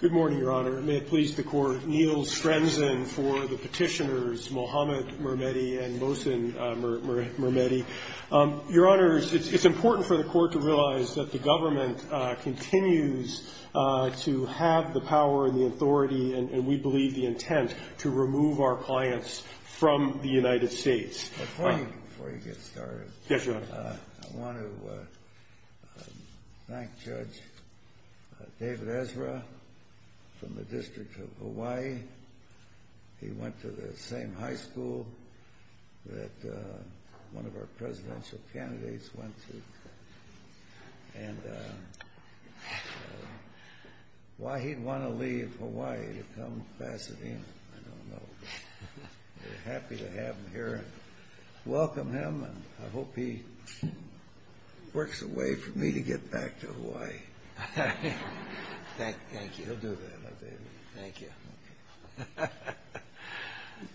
Good morning, Your Honor. May it please the Court, Neil Strenson for the petitioners Mohamed MIRMEHDI and Mohsen MIRMEHDI. Your Honor, it's important for the Court to realize that the government continues to have the power and the authority, and we believe the intent, to remove our clients from the United States. Before you get started, I want to thank Judge David Ezra from the District of Hawaii. He went to the same high school that one of our presidential candidates went to. And why he'd want to leave Hawaii to come to Pasadena, I don't know. We're happy to have him here and welcome him, and I hope he works a way for me to get back to Hawaii. Thank you.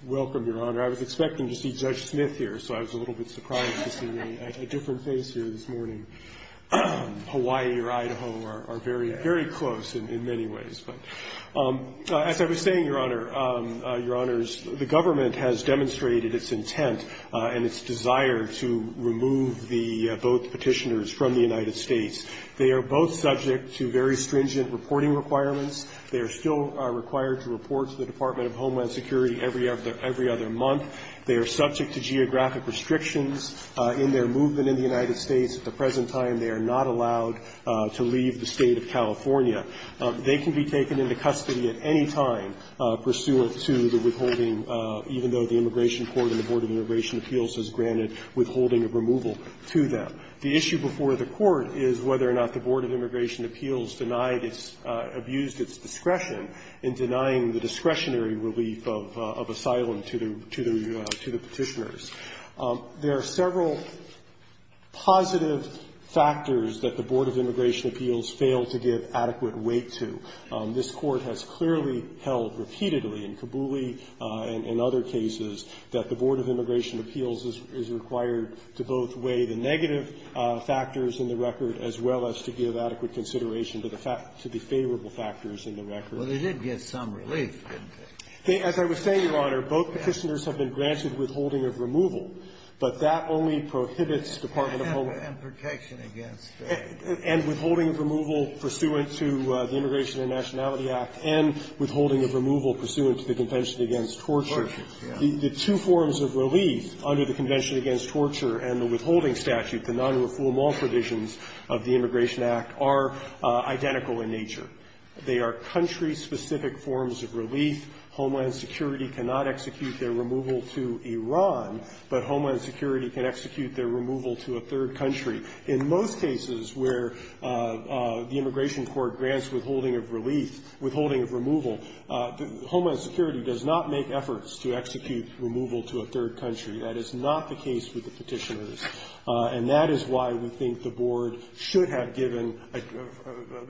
Welcome, Your Honor. I was expecting to see Judge Smith here, so I was a little bit surprised to see a different face here this morning. Hawaii or Idaho are very, very close in many ways. But as I was saying, Your Honor, Your Honors, the government has demonstrated its intent and its desire to remove both petitioners from the United States. They are both subject to very stringent reporting requirements. They are still required to report to the Department of Homeland Security every other month. They are subject to geographic restrictions in their movement in the United States. At the present time, they are not allowed to leave the State of California. They can be taken into custody at any time pursuant to the withholding, even though the Immigration Court and the Board of Immigration Appeals has granted withholding of removal to them. The issue before the Court is whether or not the Board of Immigration Appeals denied its – abused its discretion in denying the discretionary relief of asylum to the petitioners. There are several positive factors that the Board of Immigration Appeals failed to give adequate weight to. This Court has clearly held repeatedly in Kabuli and other cases that the Board of Immigration Appeals is required to both weigh the negative factors in the record, as well as to give adequate consideration to the favorable factors in the record. Well, they did get some relief, didn't they? As I was saying, Your Honor, both petitioners have been granted withholding of removal, but that only prohibits Department of Homeland Security. And protection against them. And withholding of removal pursuant to the Immigration and Nationality Act, and withholding of removal pursuant to the Convention against Torture. Torture, yes. The two forms of relief under the Convention against Torture and the withholding statute, the nonrefoulement provisions of the Immigration Act, are identical in nature. They are country-specific forms of relief. Homeland Security cannot execute their removal to Iran, but Homeland Security can execute their removal to a third country. In most cases where the Immigration Court grants withholding of relief, withholding of removal, Homeland Security does not make efforts to execute the removal to a third country. That is not the case with the petitioners. And that is why we think the Board should have given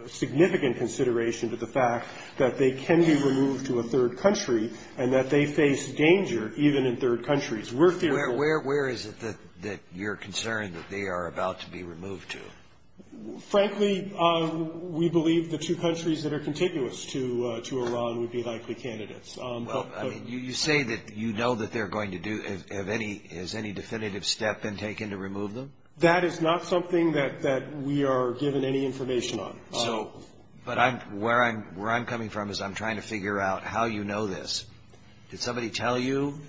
significant consideration to the fact that they can be removed to a third country, and that they face danger even in third countries. We're fearful of that. Where is it that you're concerned that they are about to be removed to? Frankly, we believe the two countries that are contiguous to Iran would be likely candidates. Well, I mean, you say that you know that they're going to do any – has any definitive step been taken to remove them? That is not something that we are given any information on. So – but I'm – where I'm coming from is I'm trying to figure out how you know this. Did somebody tell you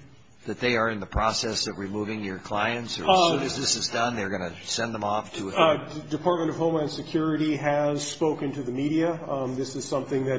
that they are in the process of removing your clients, or as soon as this is done, they're going to send them off to a third country? Department of Homeland Security has spoken to the media. This is something that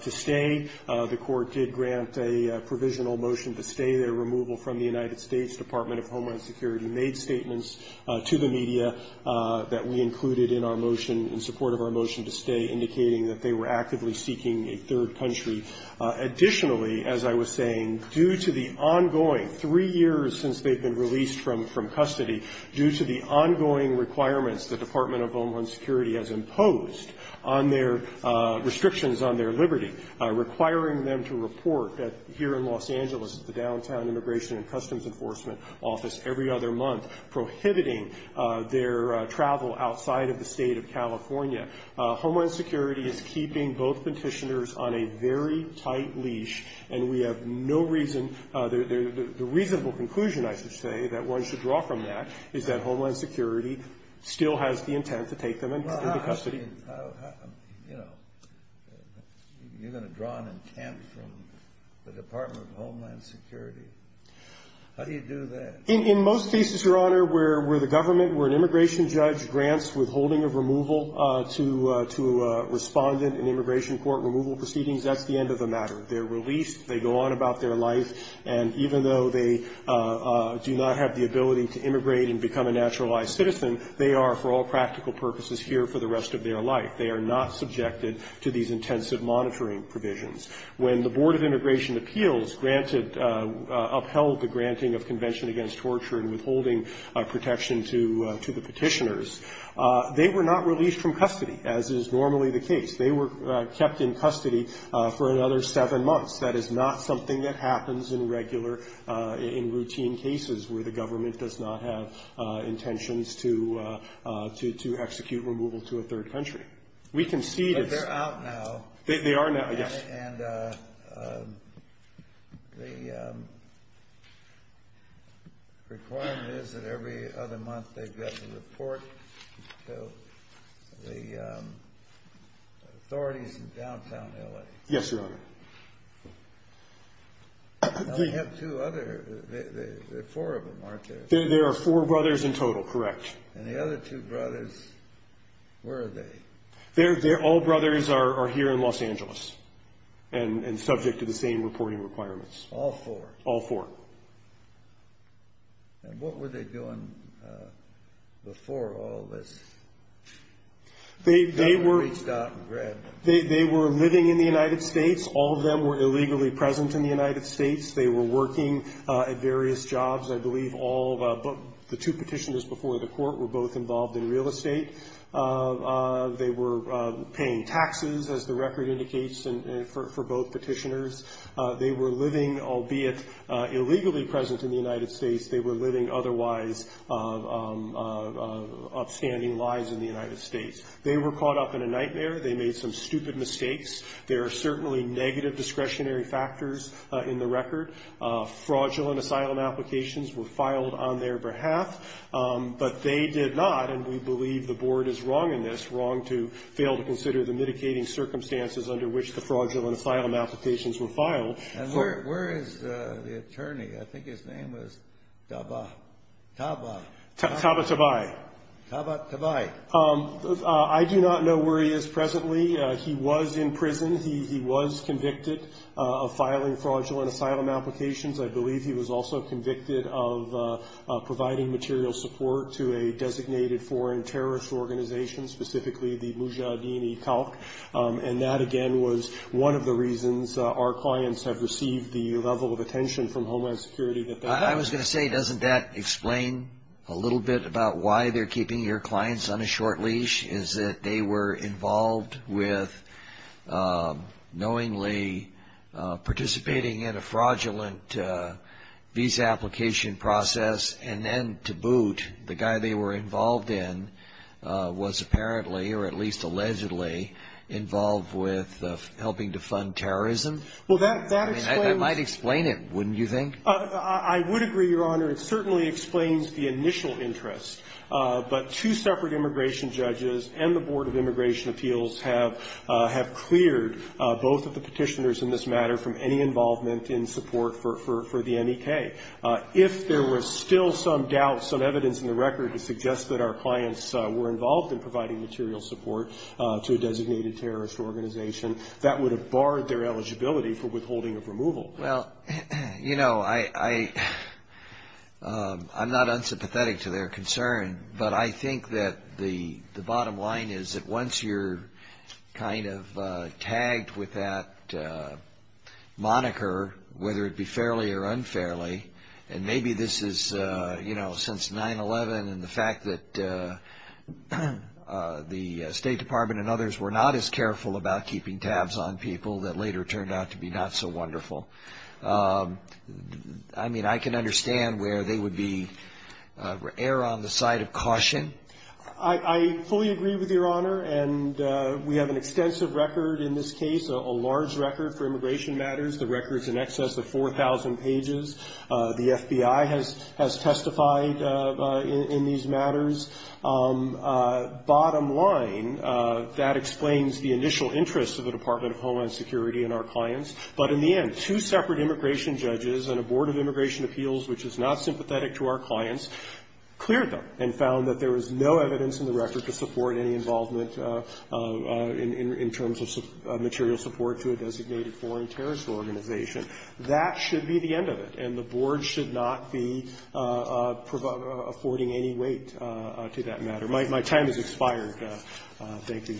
to stay. The Court did grant a provisional motion to stay their removal from the United States. Department of Homeland Security made statements to the media that we included in our motion, in support of our motion to stay, indicating that they were actively seeking a third country. Additionally, as I was saying, due to the ongoing – three years since they've been released from custody, due to the ongoing requirements the Department of Homeland Security has imposed on their restrictions on their liberty, requiring them to report here in Los Angeles at the Downtown Immigration and Customs Enforcement Office every other month, prohibiting their travel outside of the state of California. Homeland Security is keeping both petitioners on a very tight leash, and we have no reason – the reasonable conclusion, I should say, that one should draw from that is that Homeland Security still has the intent to take them into custody. I mean, how – you know, you're going to draw an intent from the Department of Homeland Security. How do you do that? In most cases, Your Honor, where the government – where an immigration judge grants withholding of removal to a respondent in immigration court removal proceedings, that's the end of the matter. They're released, they go on about their life, and even though they do not have the ability to immigrate and become a naturalized citizen, they are for all practical purposes here for the rest of their life. They are not subjected to these intensive monitoring provisions. When the Board of Immigration Appeals granted – upheld the granting of Convention Against Torture and withholding protection to the petitioners, they were not released from custody, as is normally the case. They were kept in custody for another seven months. That is not something that happens in regular – in routine cases in any other country. We can see this. But they're out now. They are now, yes. And the requirement is that every other month they've got the report to the authorities in downtown L.A. Yes, Your Honor. Now, we have two other – there are four of them, aren't there? There are four brothers in total, correct. And the other two brothers, where are they? All brothers are here in Los Angeles and subject to the same reporting All four? All four. And what were they doing before all this got reached out and read? They were living in the United States. All of them were illegally present in the United States. They were working at various jobs, I believe, all – the two petitioners before the court were both involved in real estate. They were paying taxes, as the record indicates, for both petitioners. They were living, albeit illegally present in the United States, they were living otherwise upstanding lives in the United States. They were caught up in a nightmare. They made some stupid mistakes. There are certainly negative discretionary factors in the record. Fraudulent asylum applications were filed on their behalf, but they did not, and we believe the board is wrong in this, wrong to fail to consider the mitigating circumstances under which the fraudulent asylum applications were filed. And where is the attorney? I think his name was Taba. Taba. Taba Tabai. Taba Tabai. I do not know where he is presently. He was in prison. He was convicted of filing fraudulent asylum applications. I believe he was also convicted of providing material support to a designated foreign terrorist organization, specifically the Mujahideen-e-Khalq. And that, again, was one of the reasons our clients have received the level of attention from Homeland Security. I was going to say, doesn't that explain a little bit about why they're keeping your clients on a short leash, is that they were involved with knowingly participating in a fraudulent visa application process, and then to boot, the guy they were involved in was apparently, or at least allegedly, involved with helping to fund terrorism? Well, that explains. I mean, that might explain it, wouldn't you think? I would agree, Your Honor. It certainly explains the initial interest. But two separate immigration judges and the Board of Immigration Appeals have cleared both of the Petitioners in this matter from any involvement in support for the M.E.K. If there were still some doubts, some evidence in the record to suggest that our clients were involved in providing material support to a designated terrorist organization, that would have barred their eligibility for withholding of removal. Well, you know, I'm not unsympathetic to their concern, but I think that the bottom line is that once you're kind of tagged with that moniker, whether it be fairly or unfairly, and maybe this is, you know, since 9-11 and the fact that the State Department and others were not as careful about keeping tabs on people that later turned out to be not so wonderful, I mean, I can understand where they would be err on the side of caution. I fully agree with Your Honor, and we have an extensive record in this case, a large record for immigration matters. The record's in excess of 4,000 pages. The FBI has testified in these matters. But in the end, two separate immigration judges and a board of immigration appeals which is not sympathetic to our clients cleared them and found that there was no evidence in the record to support any involvement in terms of material support to a designated foreign terrorist organization. That should be the end of it, and the board should not be affording any weight to that matter. My time has expired. Thank you. Thank you.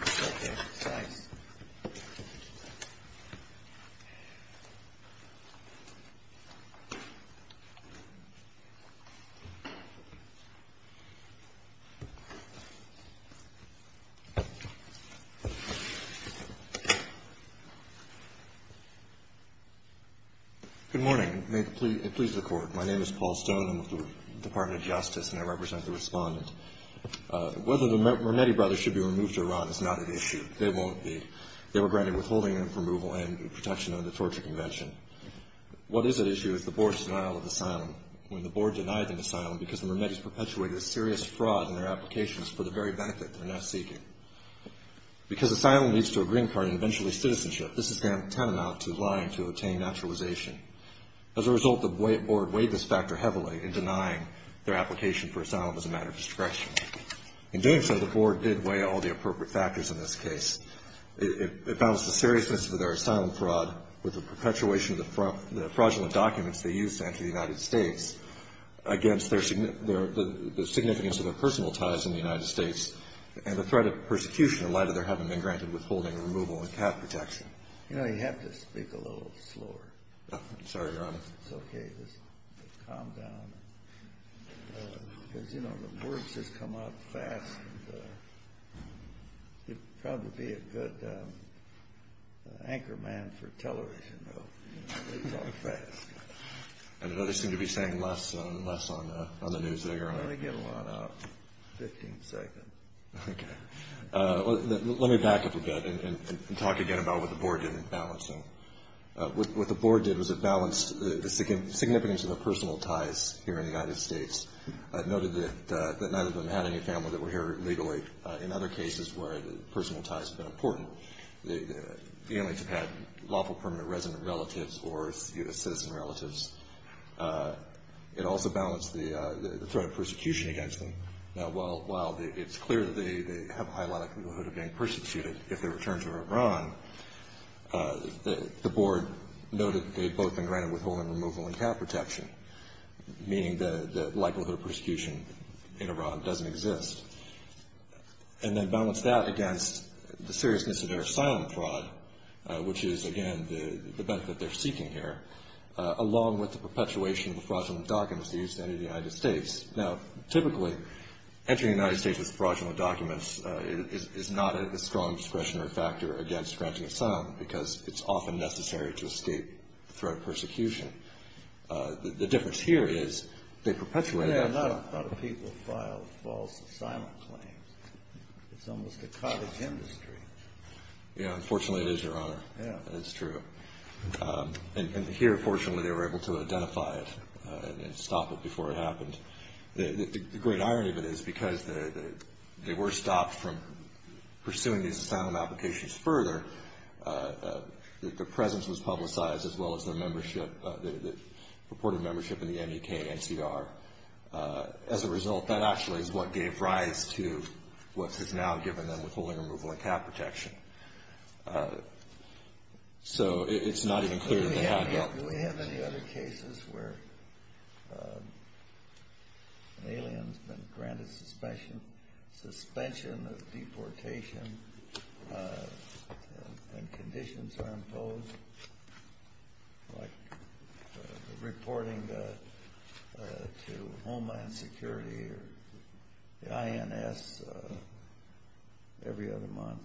Thanks. Good morning. May it please the Court. My name is Paul Stone. I'm with the Department of Justice, and I represent the Respondent. Whether the Mermetti brothers should be removed to Iran is not an issue. They won't be. They were granted withholding and removal and protection under the Torture Convention. What is at issue is the board's denial of asylum. When the board denied them asylum because the Mermetti's perpetuated a serious fraud in their applications for the very benefit they're now seeking. Because asylum leads to a green card and eventually citizenship, this is tantamount to lying to obtain naturalization. As a result, the board weighed this factor heavily in denying their application for naturalization. In doing so, the board did weigh all the appropriate factors in this case. It balanced the seriousness of their asylum fraud with the perpetuation of the fraudulent documents they used to enter the United States against their significance of their personal ties in the United States and the threat of persecution in light of their having been granted withholding and removal and cap protection. You know, you have to speak a little slower. I'm sorry, Your Honor. It's okay. Just calm down. Because, you know, the words just come out fast. You'd probably be a good anchorman for television, though. It's all fast. I know they seem to be saying less and less on the news today, Your Honor. Well, they get a lot out in 15 seconds. Okay. Let me back up a bit and talk again about what the board did in balancing. What the board did was it balanced the significance of their personal ties here in the United States. It noted that neither of them had any family that were here illegally. In other cases where personal ties have been important, the families have had lawful permanent resident relatives or citizen relatives. It also balanced the threat of persecution against them. Now, while it's clear that they have a high likelihood of being persecuted if they return to Iran, the board noted that they had both been granted withholding, removal, and cap protection, meaning the likelihood of persecution in Iran doesn't exist. And then balanced that against the seriousness of their asylum fraud, which is, again, the benefit they're seeking here, along with the perpetuation of the fraudulent documents they used to enter the United States. Now, typically, entering the United States with fraudulent documents is not a strong discretionary factor against granting asylum because it's often necessary to escape threat of persecution. The difference here is they perpetuated that fraud. Yeah, a lot of people filed false asylum claims. It's almost a cottage industry. Yeah, unfortunately it is, Your Honor. Yeah. It's true. And here, fortunately, they were able to identify it and stop it before it happened. The great irony of it is because they were stopped from pursuing these asylum applications further, the presence was publicized, as well as their membership, the purported membership in the MEK NCR. As a result, that actually is what gave rise to what has now given them withholding, removal, and cap protection. So it's not even clear that they have that. Do we have any other cases where an alien has been granted suspension, suspension of deportation, and conditions are imposed, like reporting to Homeland Security or the INS every other month?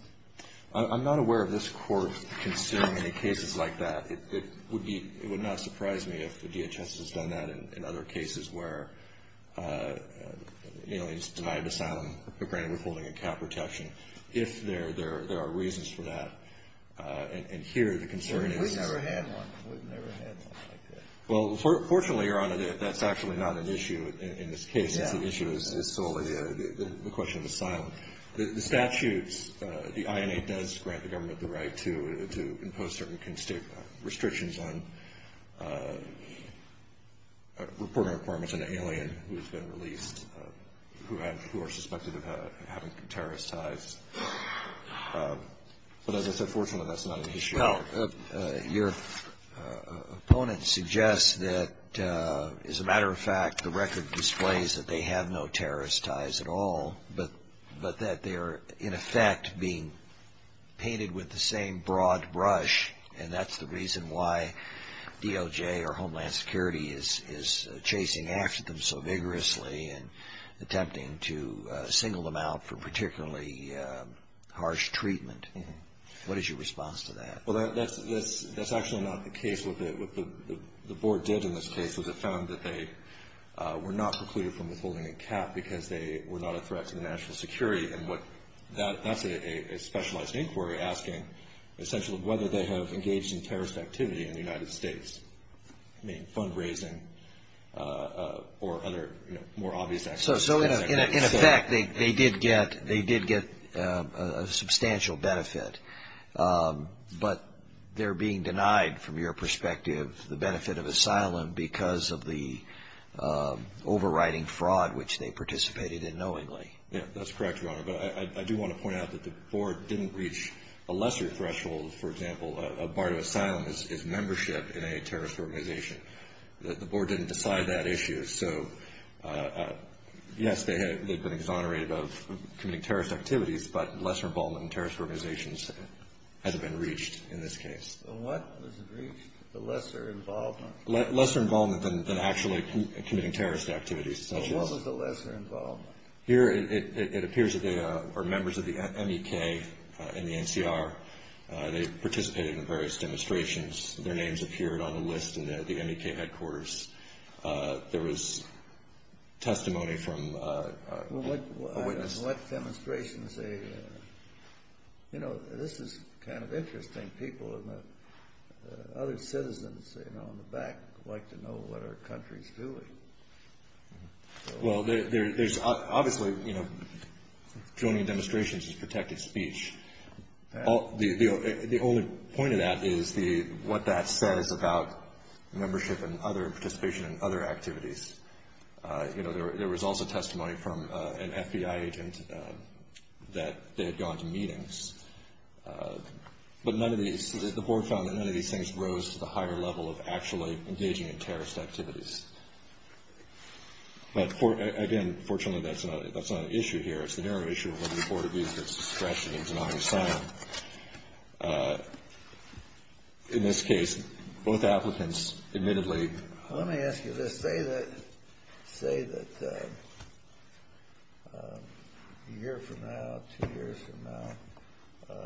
I'm not aware of this Court considering any cases like that. It would not surprise me if the DHS has done that in other cases where an alien is denied asylum, granted withholding and cap protection, if there are reasons for that. And here, the concern is... We've never had one. We've never had one like that. Well, fortunately, Your Honor, that's actually not an issue in this case. It's an issue that is solely a question of asylum. The statutes, the INA does grant the government the right to impose certain restrictions on reporting requirements on an alien who has been released, who are suspected of having terrorist ties. But as I said, fortunately, that's not an issue. No. Your opponent suggests that, as a matter of fact, the record displays that they have no terrorist ties at all, but that they are, in effect, being painted with the same broad brush, and that's the reason why DOJ or Homeland Security is chasing after them so vigorously and attempting to single them out for particularly harsh treatment. What is your response to that? Well, that's actually not the case. What the Board did in this case was it found that they were not precluded from withholding a cap because they were not a threat to the national security. That's a specialized inquiry asking, essentially, whether they have engaged in terrorist activity in the United States. I mean, fundraising or other more obvious activities. So, in effect, they did get a substantial benefit, but they're being denied, from your perspective, the benefit of asylum because of the overriding fraud which they participated in knowingly. Yeah, that's correct, Your Honor. But I do want to point out that the Board didn't reach a lesser threshold. For example, a bar to asylum is membership in a terrorist organization. The Board didn't decide that issue. So, yes, they've been exonerated of committing terrorist activities, but lesser involvement in terrorist organizations hasn't been reached in this case. What was reached? The lesser involvement? Lesser involvement than actually committing terrorist activities. What was the lesser involvement? Well, here it appears that they are members of the MEK and the NCR. They participated in various demonstrations. Their names appeared on the list at the MEK headquarters. There was testimony from a witness. What demonstrations? You know, this is kind of interesting. People, other citizens on the back like to know what our country's doing. Well, there's obviously, you know, joining demonstrations is protected speech. The only point of that is what that says about membership and other participation and other activities. You know, there was also testimony from an FBI agent that they had gone to meetings. But none of these, the Board found that none of these things rose to the higher level of actually engaging in terrorist activities. But, again, fortunately, that's not an issue here. It's the narrow issue of whether the Board agrees with its discretion in denouncing them. In this case, both applicants admittedly. Let me ask you this. Say that a year from now, two years from now,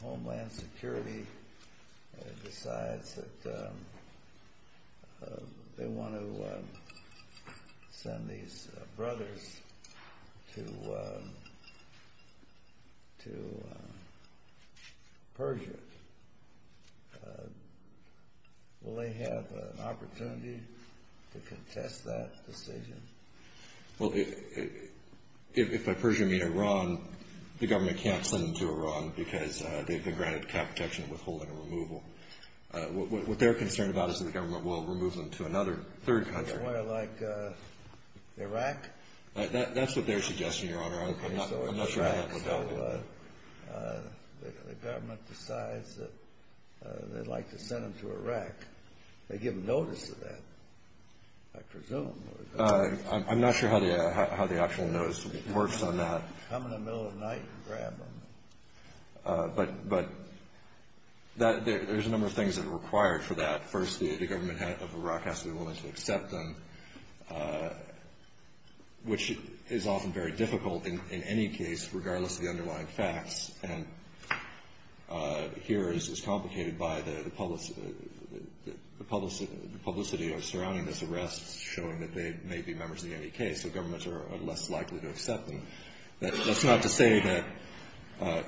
Homeland Security decides that they want to send these brothers to Persia. Will they have an opportunity to contest that decision? Well, if by Persia, you mean Iran, the government can't send them to Iran because they've been granted cap protection withholding and removal. What they're concerned about is that the government will remove them to another third country. Somewhere like Iraq? That's what they're suggesting, Your Honor. I'm not sure how that would happen. Well, the government decides that they'd like to send them to Iraq. They give them notice of that, I presume. I'm not sure how the actual notice works on that. Come in the middle of the night and grab them. But there's a number of things that are required for that. First, the government of Iraq has to be willing to accept them, which is often very difficult in any case, regardless of the underlying facts. And here it's complicated by the publicity surrounding this arrest showing that they may be members of the NEK, so governments are less likely to accept them. That's not to say that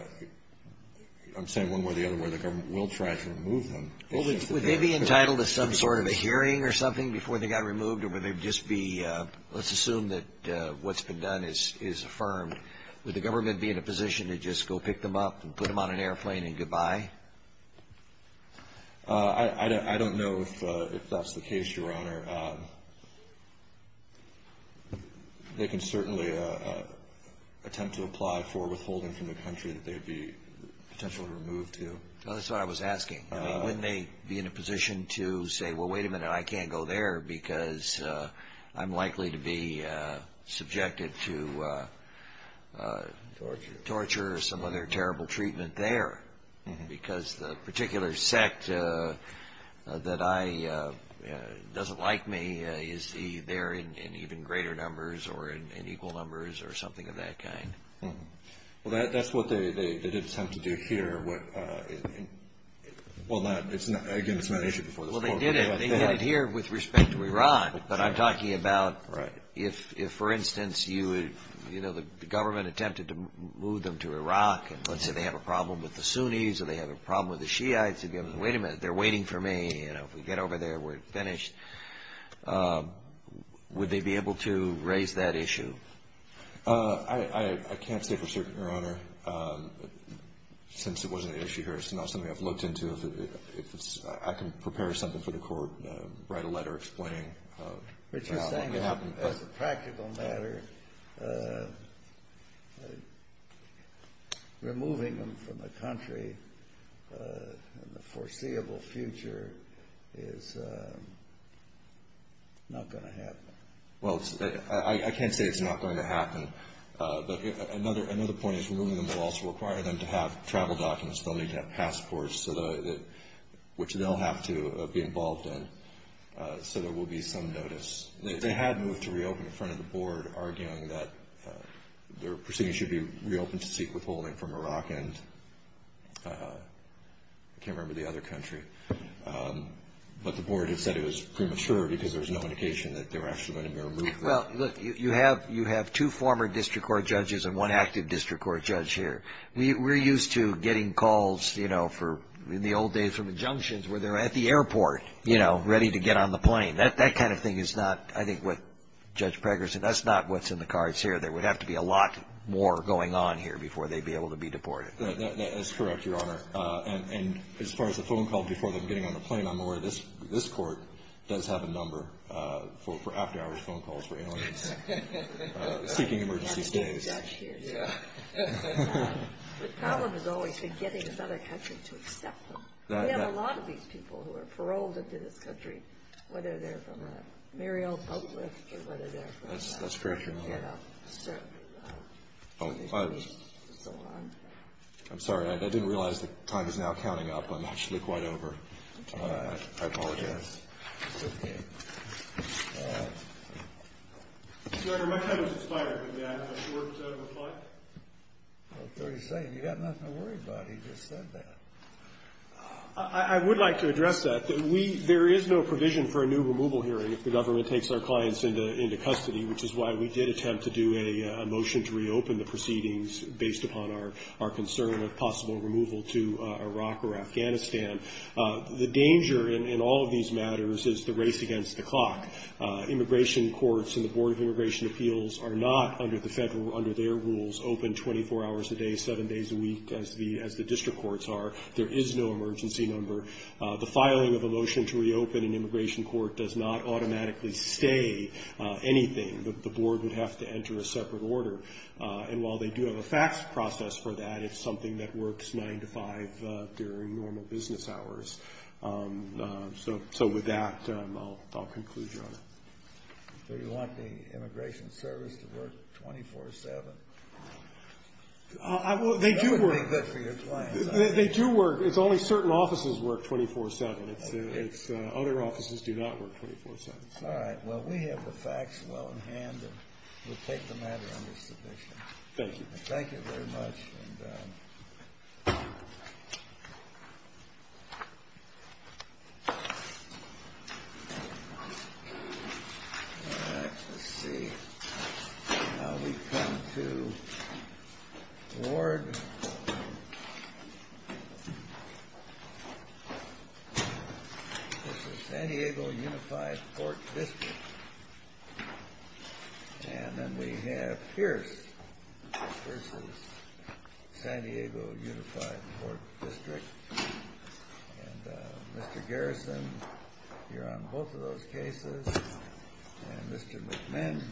I'm saying one way or the other where the government will try to remove them. Would they be entitled to some sort of a hearing or something before they got removed? Let's assume that what's been done is affirmed. Would the government be in a position to just go pick them up and put them on an airplane and goodbye? I don't know if that's the case, Your Honor. They can certainly attempt to apply for withholding from the country that they'd be potentially removed to. That's what I was asking. Wouldn't they be in a position to say, well, wait a minute, I can't go there because I'm likely to be subjected to torture or some other terrible treatment there because the particular sect that doesn't like me is there in even greater numbers or in equal numbers or something of that kind? Well, that's what they did attempt to do here. Again, it's not an issue before this court. Well, they did it here with respect to Iran, but I'm talking about if, for instance, the government attempted to move them to Iraq and let's say they have a problem with the Sunnis or they have a problem with the Shiites, they'd be able to say, wait a minute, they're waiting for me. If we get over there, we're finished. Would they be able to raise that issue? I can't say for certain, Your Honor, since it wasn't an issue here. It's not something I've looked into. If I can prepare something for the court, write a letter explaining what could happen. But you're saying as a practical matter, removing them from the country in the foreseeable future is not going to happen. Well, I can't say it's not going to happen. But another point is removing them will also require them to have travel documents. They'll need to have passports, which they'll have to be involved in, so there will be some notice. They had moved to reopen in front of the board, arguing that their proceedings should be reopened to seek withholding from Iraq and I can't remember the other country. But the board had said it was premature because there was no indication that they were actually going to be removed. Well, look, you have two former district court judges and one active district court judge here. We're used to getting calls, you know, in the old days from injunctions where they're at the airport, you know, ready to get on the plane. That kind of thing is not, I think, what Judge Pregger said. That's not what's in the cards here. There would have to be a lot more going on here before they'd be able to be deported. That is correct, Your Honor. And as far as the phone call before them getting on the plane, I'm aware this court does have a number for after-hours phone calls for aliens seeking emergency stays. The problem has always been getting another country to accept them. We have a lot of these people who are paroled into this country, whether they're from a merrile public or whether they're from a private get-up. That's correct, Your Honor. Oh, I'm sorry. I didn't realize the time is now counting up. I'm actually quite over. I apologize. It's okay. All right. Your Honor, my time is expired. Did I have a short set of reply? About 30 seconds. You got nothing to worry about. He just said that. I would like to address that. There is no provision for a new removal hearing if the government takes our clients into custody, which is why we did attempt to do a motion to reopen the proceedings, based upon our concern of possible removal to Iraq or Afghanistan. The danger in all of these matters is the race against the clock. Immigration courts and the Board of Immigration Appeals are not, under their rules, open 24 hours a day, seven days a week, as the district courts are. There is no emergency number. The filing of a motion to reopen an immigration court does not automatically stay anything. The board would have to enter a separate order. And while they do have a fax process for that, it's something that works nine to five during normal business hours. So with that, I'll conclude, Your Honor. Do you want the immigration service to work 24-7? They do work. That doesn't make it good for your clients, I think. They do work. It's only certain offices work 24-7. Other offices do not work 24-7. All right. Well, we have the facts well in hand, and we'll take the matter under submission. Thank you. Thank you very much. All right. Let's see. Now we come to Ward. This is San Diego Unified Court District. And then we have Pierce v. San Diego Unified Court District. And Mr. Garrison, you're on both of those cases. And Mr. McMinn.